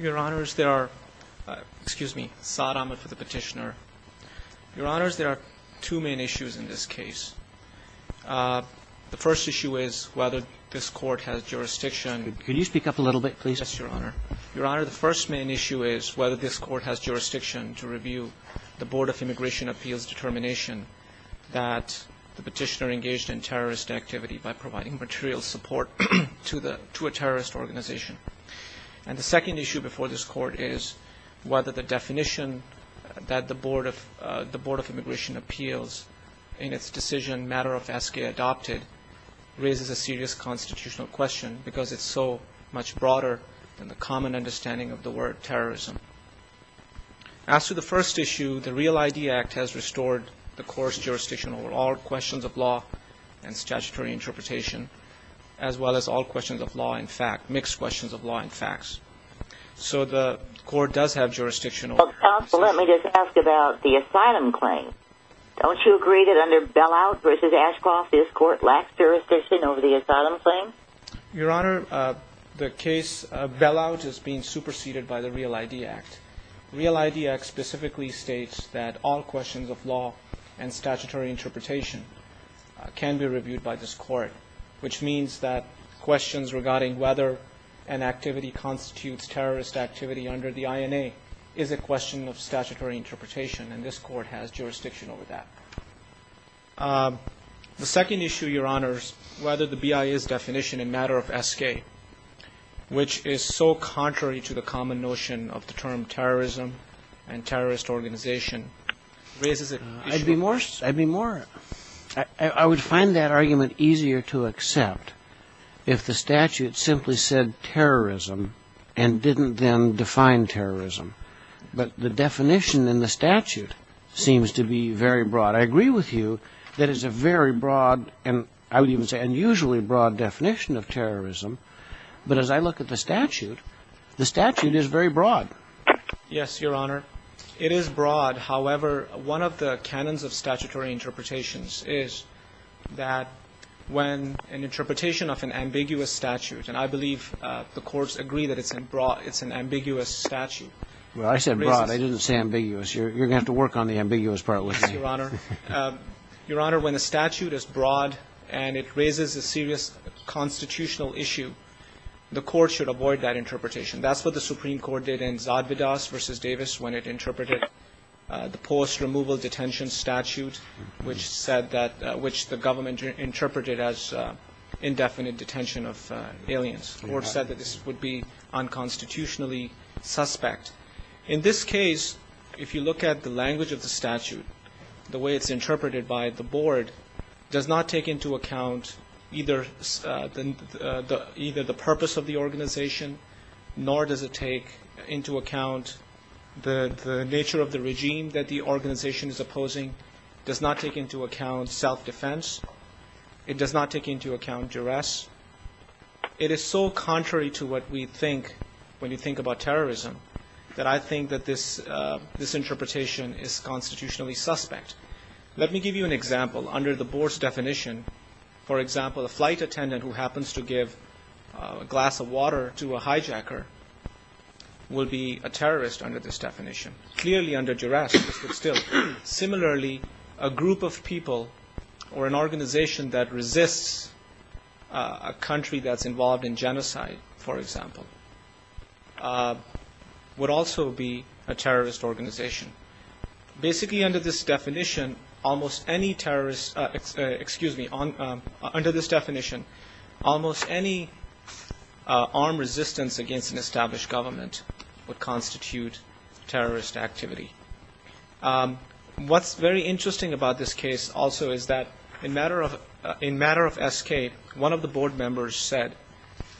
Your Honor, there are two main issues in this case. The first issue is whether this court has jurisdiction to review the Board of Immigration Appeals determination that the petitioner engaged in terrorist activity by providing material support to a terrorist organization. And the second issue before this court is whether the definition that the Board of Immigration Appeals in its decision matter of S.K. adopted raises a serious constitutional question because it's so much broader than the common understanding of the word terrorism. As to the first issue, the REAL-ID Act has restored the court's jurisdiction over all questions of law and statutory interpretation, as well as all questions of law and facts, mixed questions of law and facts. So the court does have jurisdiction over this issue. Counsel, let me just ask about the asylum claim. Don't you agree that under bell-out v. Ashcroft, this court lacks jurisdiction over the asylum claim? Your Honor, the case of bell-out is being superseded by the REAL-ID Act. REAL-ID Act specifically states that all questions of law and statutory interpretation can be reviewed by this court, which means that questions regarding whether an activity constitutes terrorist activity under the INA is a question of statutory interpretation, and this court has jurisdiction over that. The second issue, Your Honor, is whether the BIA's definition in matter of S.K., which is so contrary to the common notion of the term terrorism and terrorist organization, raises an issue. I would find that argument easier to accept if the statute simply said terrorism and didn't then define terrorism. But the definition in the statute seems to be very broad. I agree with you that it's a very broad, and I would even say unusually broad, definition of terrorism. But as I look at the statute, the statute is very broad. Yes, Your Honor. It is broad. However, one of the canons of statutory interpretations is that when an interpretation of an ambiguous statute, and I believe the courts agree that it's an ambiguous statute. Well, I said broad. I didn't say ambiguous. You're going to have to work on the ambiguous part with me. Your Honor, when a statute is broad and it raises a serious constitutional issue, the court should avoid that interpretation. That's what the Supreme Court did in Zadvydas v. Davis when it interpreted the post-removal detention statute, which said that, which the government interpreted as indefinite detention of aliens. The court said that this would be unconstitutionally suspect. In this case, if you look at the language of the statute, the way it's interpreted by the board does not take into account either the purpose of the organization, nor does it take into account the nature of the regime that the organization is opposing, does not take into account self-defense, it does not take into account duress. It is so contrary to what we think when you think about terrorism that I think that this interpretation is constitutionally suspect. Let me give you an example. Under the board's definition, for example, a flight attendant who happens to give a glass of water to a hijacker will be a terrorist under this definition, clearly under duress, but still. Similarly, a group of people or an organization that resists a country that's involved in genocide, for example, would also be a terrorist organization. Basically under this definition, almost any terrorist, excuse me, under this definition, almost any armed resistance against an established government would constitute terrorist activity. What's very interesting about this case also is that in matter of SK, one of the board members said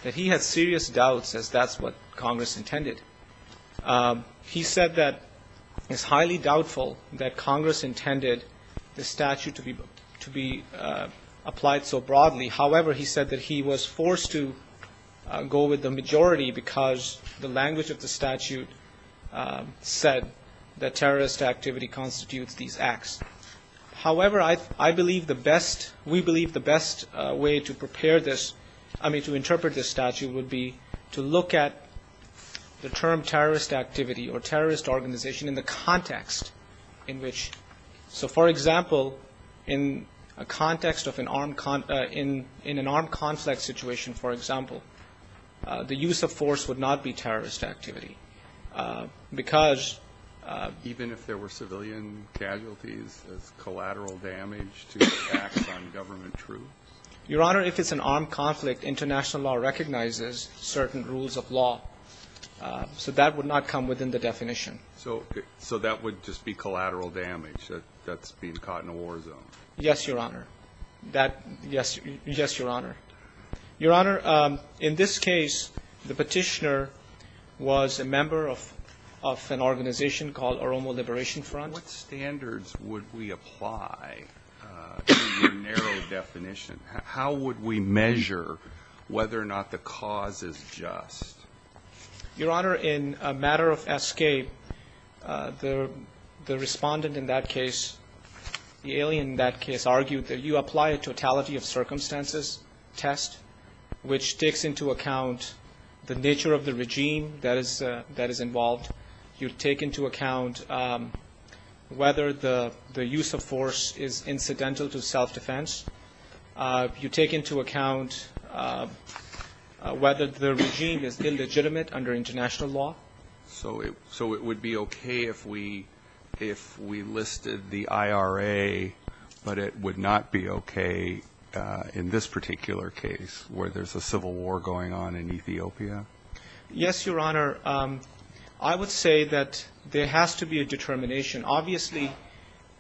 that he had serious doubts as that's what Congress intended. He said that it's highly doubtful that Congress intended the statute to be applied so broadly. However, he said that he was forced to go with the majority because the language of the statute said that terrorist activity constitutes these acts. However, I believe the best, we believe the best way to prepare this, I mean to interpret this statute would be to look at the term terrorist activity or terrorist organization in the context in which. So, for example, in a context of an armed, in an armed conflict situation, for example, the use of force would not be terrorist activity because. Even if there were civilian casualties as collateral damage to acts on government troops? Your Honor, if it's an armed conflict, international law recognizes certain rules of law, so that would not come within the definition. So, so that would just be collateral damage that's being caught in a war zone? Yes, Your Honor. That, yes, yes, Your Honor. Your Honor, in this case, the petitioner was a member of an organization called Oromo Liberation Front. What standards would we apply to the narrow definition? How would we measure whether or not the cause is just? Your Honor, in a matter of escape, the respondent in that case, the alien in that case, argued that you apply a totality of circumstances test, which takes into account the nature of the regime that is involved. You take into account whether the use of force is incidental to self-defense. You take into account whether the regime is illegitimate under international law. So, so it would be OK if we, if we listed the IRA, but it would not be OK in this particular case where there's a civil war going on in Ethiopia? Yes, Your Honor. I would say that there has to be a determination. Obviously,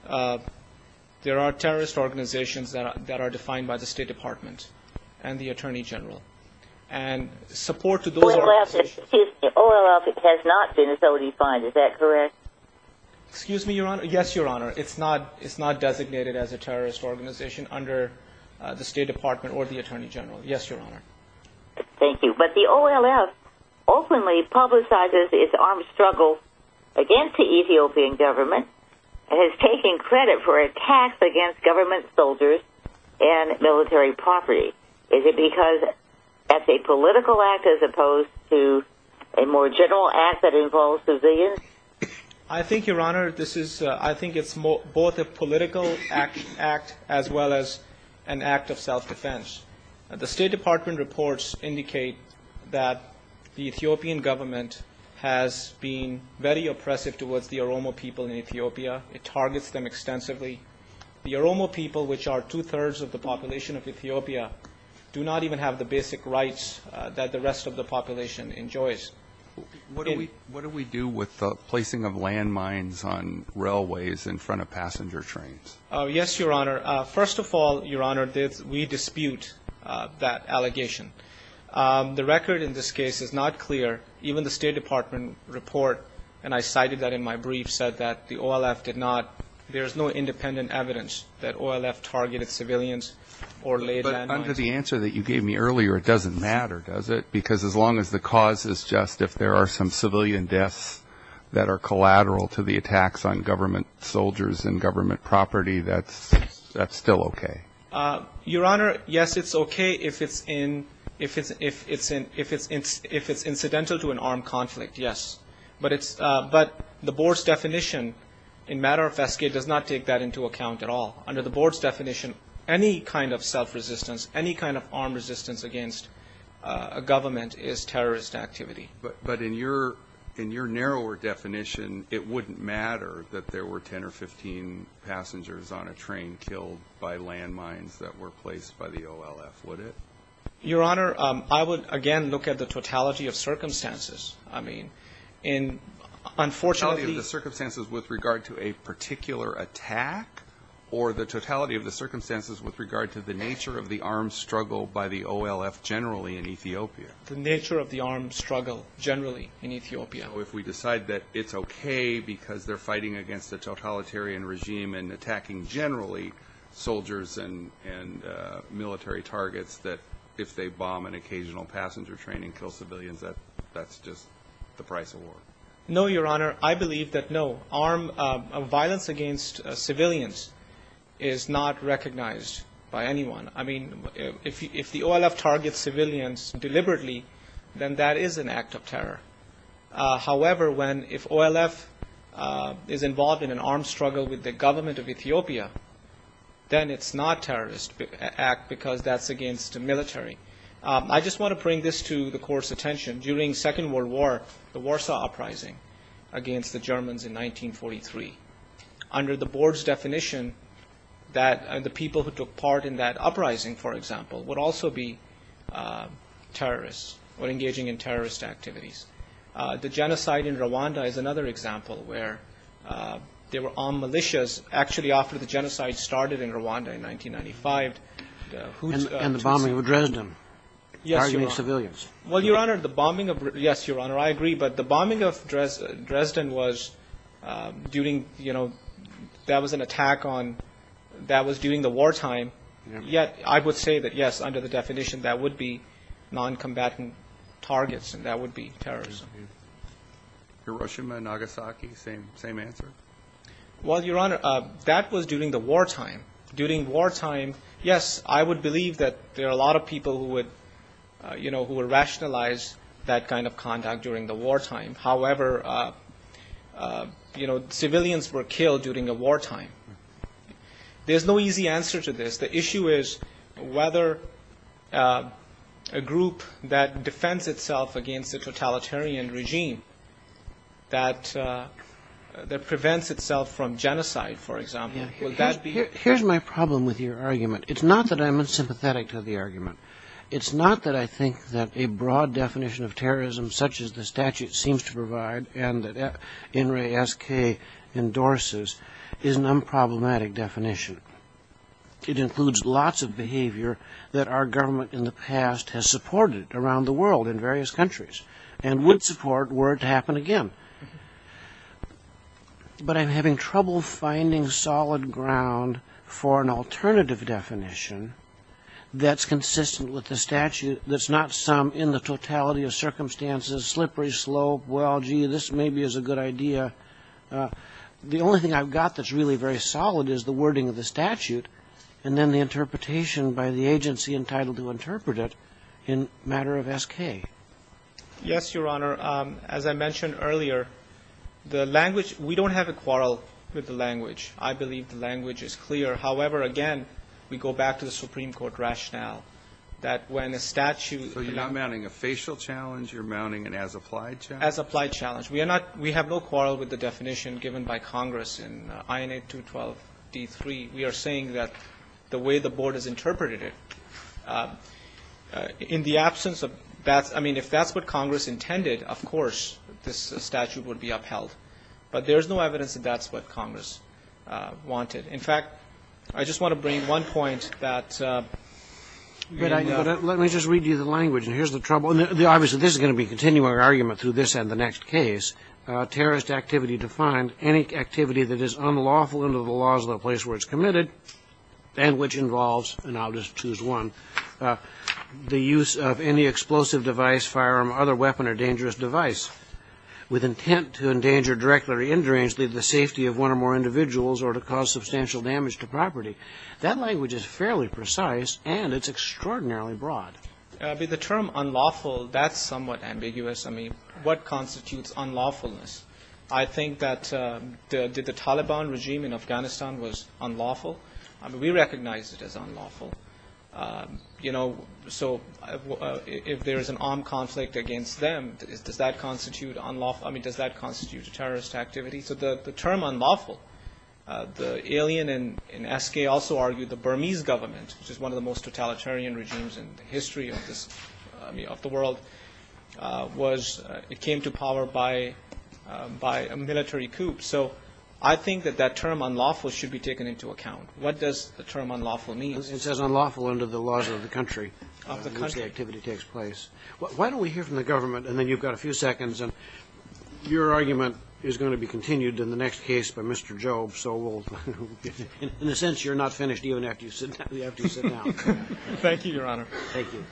there are terrorist organizations that are defined by the State Department and the Attorney General. And support to those organizations. The OLF has not been so defined. Is that correct? Excuse me, Your Honor. Yes, Your Honor. It's not, it's not designated as a terrorist organization under the State Department or the Attorney General. Yes, Your Honor. Thank you. But the OLF openly publicizes its armed struggle against the Ethiopian government. It has taken credit for attacks against government soldiers and military property. Is it because that's a political act as opposed to a more general act that involves civilians? I think, Your Honor, this is, I think it's both a political act as well as an act of self-defense. The State Department reports indicate that the Ethiopian government has been very oppressive towards the Oromo people in Ethiopia. It targets them extensively. The Oromo people, which are two-thirds of the population of Ethiopia, do not even have the basic rights that the rest of the population enjoys. What do we, what do we do with the placing of landmines on railways in front of passenger trains? Yes, Your Honor. First of all, Your Honor, we dispute that allegation. The record in this case is not clear. Even the State Department report, and I cited that in my brief, said that the OLF did not, there is no independent evidence that OLF targeted civilians or laid landmines. But under the answer that you gave me earlier, it doesn't matter, does it? Because as long as the cause is just if there are some civilian deaths that are collateral to the attacks on government soldiers and government property, that's still okay. Your Honor, yes, it's okay if it's in, if it's incidental to an armed conflict, yes. But it's, but the board's definition in matter of S.K. does not take that into account at all. Under the board's definition, any kind of self-resistance, any kind of armed resistance against a government is terrorist activity. But in your, in your narrower definition, it wouldn't matter that there were 10 or 15 passengers on a train killed by landmines that were placed by the OLF, would it? Your Honor, I would, again, look at the totality of circumstances. I mean, in, unfortunately. The totality of the circumstances with regard to a particular attack, or the totality of the circumstances with regard to the nature of the armed struggle by the OLF generally in Ethiopia? The nature of the armed struggle generally in Ethiopia. So if we decide that it's okay because they're fighting against a totalitarian regime and attacking generally soldiers and military targets, that if they bomb an occasional passenger train and kill civilians, that's just the price of war? No, Your Honor. I believe that no, armed violence against civilians is not recognized by anyone. I mean, if the OLF targets civilians deliberately, then that is an act of terror. However, when, if OLF is involved in an armed struggle with the government of Ethiopia, then it's not a terrorist act because that's against the military. I just want to bring this to the Court's attention. During the Second World War, the Warsaw Uprising against the Germans in 1943, under the Board's definition that the people who took part in that uprising, for example, would also be terrorists or engaging in terrorist activities. The genocide in Rwanda is another example where there were armed militias actually after the genocide started in Rwanda in 1995. And the bombing of Dresden. Yes, Your Honor. Targeting civilians. Well, Your Honor, the bombing of – yes, Your Honor, I agree. But the bombing of Dresden was during, you know, that was an attack on – that was during the wartime. Yet, I would say that, yes, under the definition, that would be noncombatant targets and that would be terrorism. Hiroshima and Nagasaki, same answer? Well, Your Honor, that was during the wartime. During wartime, yes, I would believe that there are a lot of people who would, you know, who would rationalize that kind of conduct during the wartime. However, you know, civilians were killed during the wartime. There's no easy answer to this. The issue is whether a group that defends itself against a totalitarian regime that prevents itself from genocide, for example. Here's my problem with your argument. It's not that I'm unsympathetic to the argument. It's not that I think that a broad definition of terrorism, such as the statute seems to provide and that NRASK endorses, is an unproblematic definition. It includes lots of behavior that our government in the past has supported around the world in various countries and would support were it to happen again. But I'm having trouble finding solid ground for an alternative definition that's consistent with the statute that's not some in the totality of circumstances, slippery slope, well, gee, this maybe is a good idea. The only thing I've got that's really very solid is the wording of the statute and then the interpretation by the agency entitled to interpret it in matter of SK. Yes, Your Honor. As I mentioned earlier, the language, we don't have a quarrel with the language. I believe the language is clear. However, again, we go back to the Supreme Court rationale that when a statute So you're not mounting a facial challenge? You're mounting an as-applied challenge? As-applied challenge. We are not, we have no quarrel with the definition given by Congress in INA 212D3. We are saying that the way the Board has interpreted it, in the absence of that, I mean, if that's what Congress intended, of course, this statute would be upheld. But there's no evidence that that's what Congress wanted. In fact, I just want to bring one point that But let me just read you the language, and here's the trouble. Obviously, this is going to be a continuing argument through this and the next case. Terrorist activity defined, any activity that is unlawful under the laws of the place where it's committed and which involves, and I'll just choose one, the use of any explosive device, firearm, or other weapon or dangerous device with intent to endanger directly or indirectly the safety of one or more individuals or to cause substantial damage to property. That language is fairly precise, and it's extraordinarily broad. The term unlawful, that's somewhat ambiguous. I mean, what constitutes unlawfulness? I think that the Taliban regime in Afghanistan was unlawful. I mean, we recognize it as unlawful. You know, so if there is an armed conflict against them, does that constitute unlawful? I mean, does that constitute a terrorist activity? So the term unlawful, the alien in SK also argued the Burmese government, which is one of the most totalitarian regimes in the history of the world, was it came to power by a military coup. So I think that that term unlawful should be taken into account. What does the term unlawful mean? It says unlawful under the laws of the country. Of the country. In which the activity takes place. Why don't we hear from the government, and then you've got a few seconds, and your argument is going to be continued in the next case by Mr. Job. So we'll, in a sense, you're not finished even after you sit down. Thank you, Your Honor. Thank you.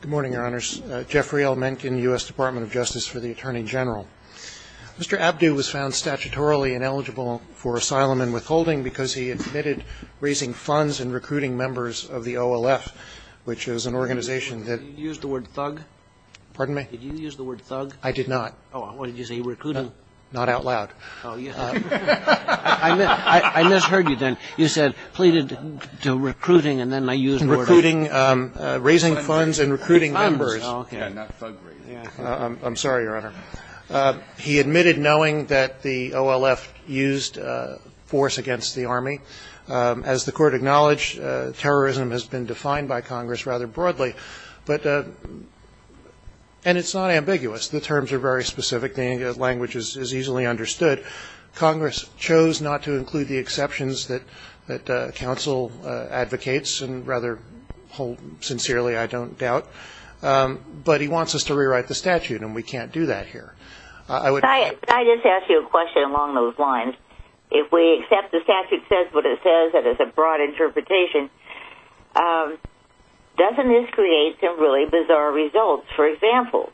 Good morning, Your Honors. Jeffrey L. Menken, U.S. Department of Justice for the Attorney General. Mr. Abdu was found statutorily ineligible for asylum and withholding because he admitted raising funds and recruiting members of the OLF, which is an organization that. Did you use the word thug? Pardon me? Did you use the word thug? I did not. Oh, what did you say? Recruiting? Not out loud. I misheard you then. You said pleaded to recruiting, and then I used the word thug. Raising funds and recruiting members. Oh, okay. I'm sorry, Your Honor. He admitted knowing that the OLF used force against the Army. As the Court acknowledged, terrorism has been defined by Congress rather broadly. But, and it's not ambiguous. The terms are very specific. The language is easily understood. Congress chose not to include the exceptions that counsel advocates, and rather hold sincerely, I don't doubt. But he wants us to rewrite the statute, and we can't do that here. Could I just ask you a question along those lines? If we accept the statute says what it says, that it's a broad interpretation, doesn't this create some really bizarre results? For example,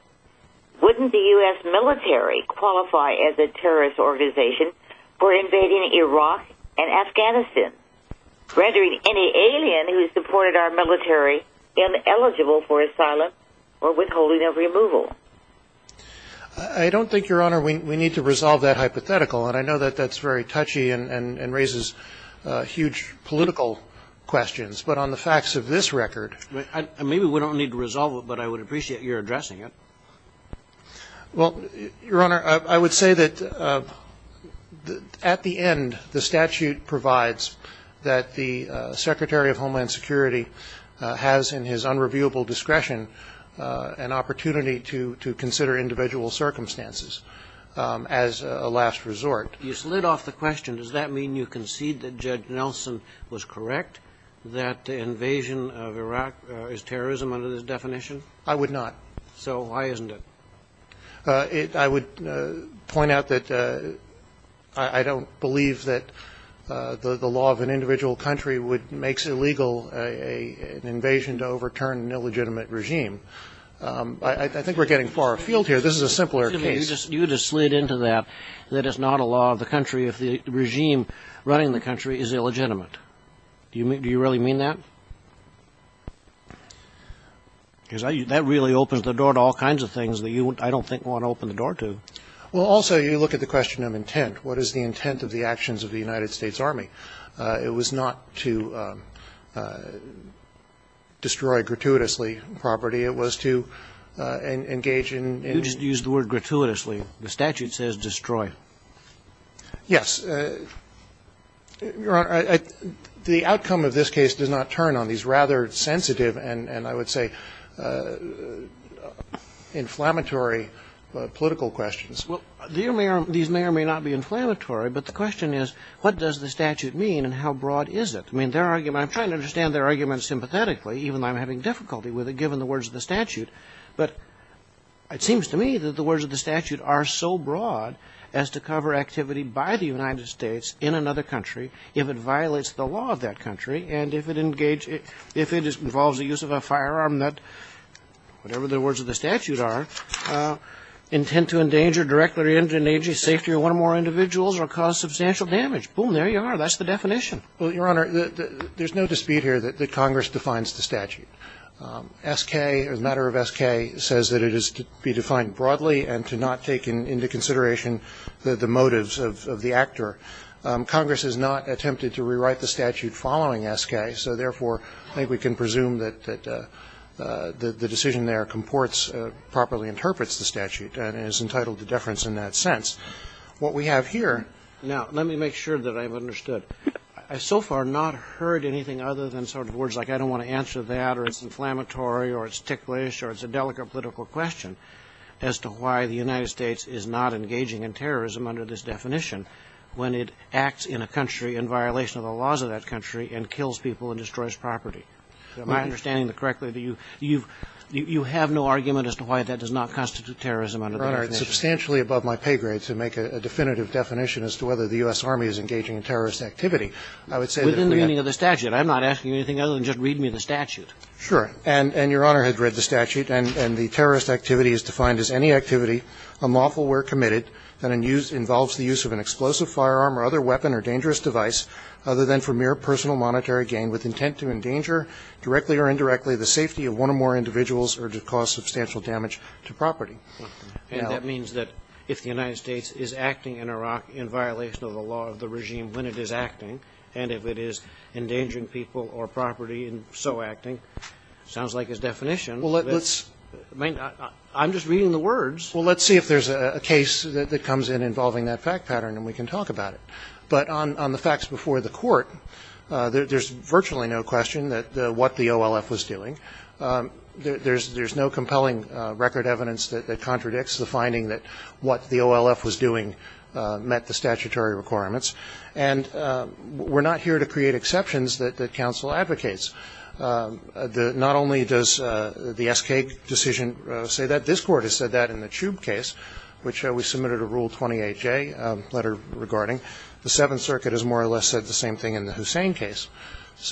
wouldn't the U.S. military qualify as a terrorist organization for invading Iraq and Afghanistan, rendering any alien who supported our military ineligible for asylum or withholding of removal? I don't think, Your Honor, we need to resolve that hypothetical. And I know that that's very touchy and raises huge political questions. But on the facts of this record. Maybe we don't need to resolve it, but I would appreciate your addressing it. Well, Your Honor, I would say that at the end, the statute provides that the Secretary of Homeland Security has in his unreviewable discretion an opportunity to consider individual circumstances as a last resort. You slid off the question. Does that mean you concede that Judge Nelson was correct, that the invasion of Iraq is terrorism under this definition? I would not. So why isn't it? I would point out that I don't believe that the law of an individual country makes illegal an invasion to overturn an illegitimate regime. I think we're getting far afield here. This is a simpler case. You just slid into that, that it's not a law of the country if the regime running the country is illegitimate. Do you really mean that? Because that really opens the door to all kinds of things that you, I don't think, want to open the door to. Well, also, you look at the question of intent. What is the intent of the actions of the United States Army? It was not to destroy gratuitously property. It was to engage in and you just use the word gratuitously. The statute says destroy. Yes. Your Honor, the outcome of this case does not turn on these rather sensitive and I would say inflammatory political questions. Well, these may or may not be inflammatory, but the question is what does the statute mean and how broad is it? I mean, their argument, I'm trying to understand their argument sympathetically even though I'm having difficulty with it given the words of the statute. But it seems to me that the words of the statute are so broad as to cover activity by the United States in another country if it violates the law of that country and if it engages, if it involves the use of a firearm that, whatever the words of the statute are, intent to endanger directly or indirectly safety of one or more individuals or cause substantial damage. Boom, there you are. That's the definition. S.K. or the matter of S.K. says that it is to be defined broadly and to not take into consideration the motives of the actor. Congress has not attempted to rewrite the statute following S.K., so therefore I think we can presume that the decision there comports, properly interprets the statute and is entitled to deference in that sense. What we have here. Now, let me make sure that I've understood. I so far have not heard anything other than sort of words like I don't want to answer that or it's inflammatory or it's ticklish or it's a delicate political question as to why the United States is not engaging in terrorism under this definition when it acts in a country in violation of the laws of that country and kills people and destroys property. Am I understanding correctly that you have no argument as to why that does not constitute terrorism under that definition? Roberts, substantially above my pay grade to make a definitive definition as to whether the U.S. Army is engaging in terrorist activity. I would say that we have. Within the meaning of the statute. I'm not asking you anything other than just read me the statute. Sure. And Your Honor had read the statute. And the terrorist activity is defined as any activity, unlawful where committed, that involves the use of an explosive firearm or other weapon or dangerous device other than for mere personal monetary gain with intent to endanger, directly or indirectly, the safety of one or more individuals or to cause substantial damage to property. And that means that if the United States is acting in Iraq in violation of the law of the regime when it is acting, and if it is endangering people or property in so acting, sounds like his definition. Well, let's. I'm just reading the words. Well, let's see if there's a case that comes in involving that fact pattern, and we can talk about it. But on the facts before the Court, there's virtually no question that what the OLF was doing. There's no compelling record evidence that contradicts the finding that what the OLF was doing met the statutory requirements. And we're not here to create exceptions that counsel advocates. Not only does the S.K. decision say that. This Court has said that in the Chube case, which we submitted a Rule 28J letter regarding. The Seventh Circuit has more or less said the same thing in the Hussein case.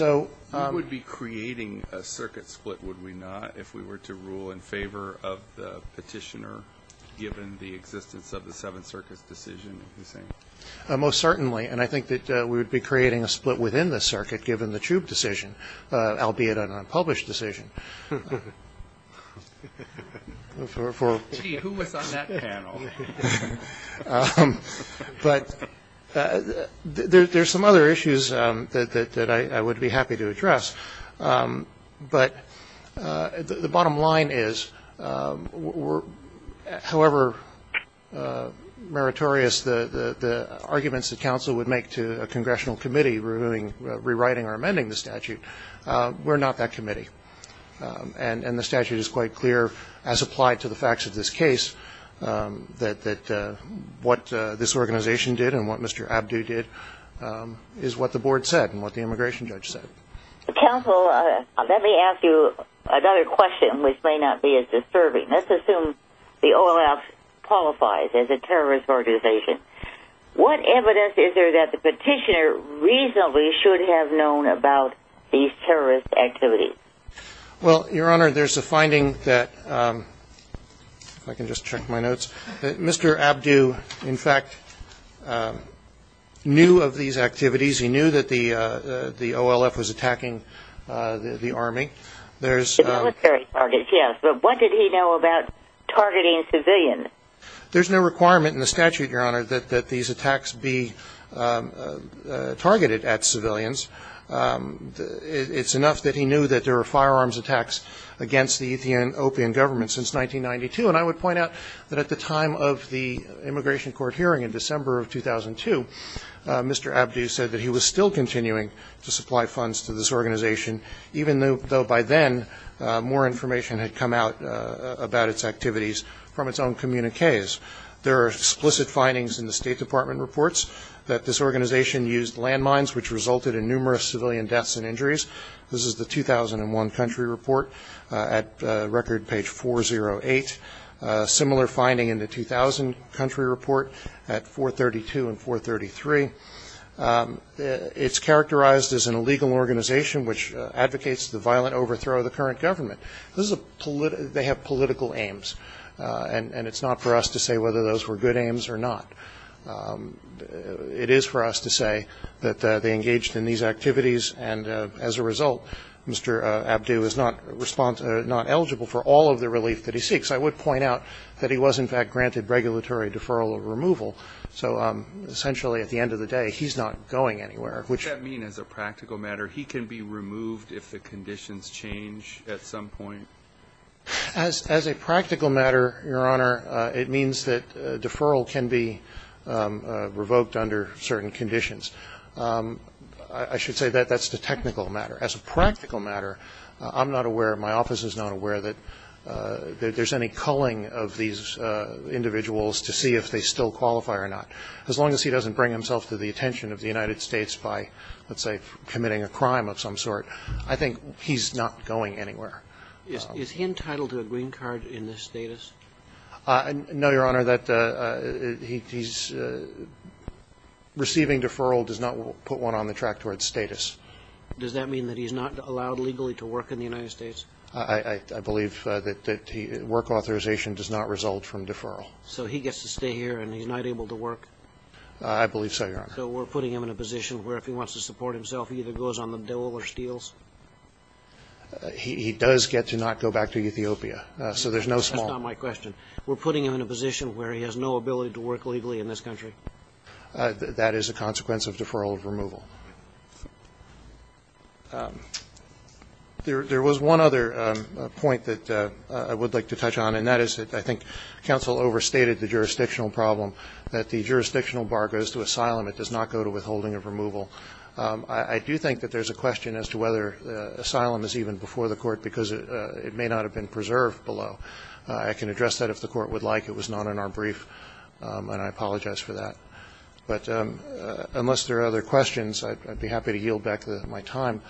We would be creating a circuit split, would we not, if we were to rule in favor of the petitioner given the existence of the Seventh Circuit's decision? Most certainly. And I think that we would be creating a split within the circuit given the Chube decision, albeit an unpublished decision. Gee, who was on that panel? But there's some other issues that I would be happy to address. But the bottom line is, however meritorious the arguments that counsel would make to a congressional committee rewriting or amending the statute, we're not that committee. And the statute is quite clear, as applied to the facts of this case, that what this organization did and what Mr. Abdu did is what the board said and what the immigration judge said. Counsel, let me ask you another question, which may not be as disturbing. Let's assume the O.L.F. qualifies as a terrorist organization. What evidence is there that the petitioner reasonably should have known about these terrorist activities? Well, Your Honor, there's a finding that, if I can just check my notes, that Mr. Abdu, in fact, knew of these activities. He knew that the O.L.F. was attacking the Army. The military targets, yes. But what did he know about targeting civilians? There's no requirement in the statute, Your Honor, that these attacks be targeted at civilians. It's enough that he knew that there were firearms attacks against the Ethiopian government since 1992. And I would point out that at the time of the immigration court hearing in December of 2002, Mr. Abdu said that he was still continuing to supply funds to this organization, even though by then more information had come out about its activities from its own communiques. There are explicit findings in the State Department reports that this organization used landmines, which resulted in numerous civilian deaths and injuries. This is the 2001 country report at record page 408. Similar finding in the 2000 country report at 432 and 433. It's characterized as an illegal organization, which advocates the violent overthrow of the current government. They have political aims. And it's not for us to say whether those were good aims or not. It is for us to say that they engaged in these activities. And as a result, Mr. Abdu is not eligible for all of the relief that he seeks. I would point out that he was, in fact, granted regulatory deferral or removal. So essentially, at the end of the day, he's not going anywhere, which ---- What does that mean as a practical matter? He can be removed if the conditions change at some point? As a practical matter, Your Honor, it means that deferral can be revoked under certain conditions. I should say that that's the technical matter. As a practical matter, I'm not aware, my office is not aware that there's any culling of these individuals to see if they still qualify or not. As long as he doesn't bring himself to the attention of the United States by, let's say, committing a crime of some sort, I think he's not going anywhere. Is he entitled to a green card in this status? No, Your Honor. That he's receiving deferral does not put one on the track towards status. Does that mean that he's not allowed legally to work in the United States? I believe that work authorization does not result from deferral. So he gets to stay here and he's not able to work? I believe so, Your Honor. So we're putting him in a position where if he wants to support himself, he either goes on the dole or steals? He does get to not go back to Ethiopia, so there's no small. That's not my question. We're putting him in a position where he has no ability to work legally in this country? That is a consequence of deferral of removal. There was one other point that I would like to touch on, and that is that I think counsel overstated the jurisdictional problem, that the jurisdictional bar goes to asylum. It does not go to withholding of removal. I do think that there's a question as to whether asylum is even before the court because it may not have been preserved below. I can address that if the court would like. It was not in our brief, and I apologize for that. But unless there are other questions, I'd be happy to yield back my time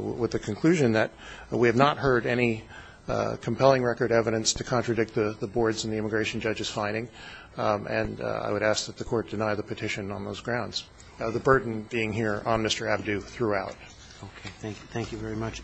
with the conclusion that we have not heard any compelling record evidence to contradict the board's and the immigration judge's finding, and I would ask that the court deny the petition on those grounds. The burden being here on Mr. Abdu throughout. Okay. Thank you. Thank you very much.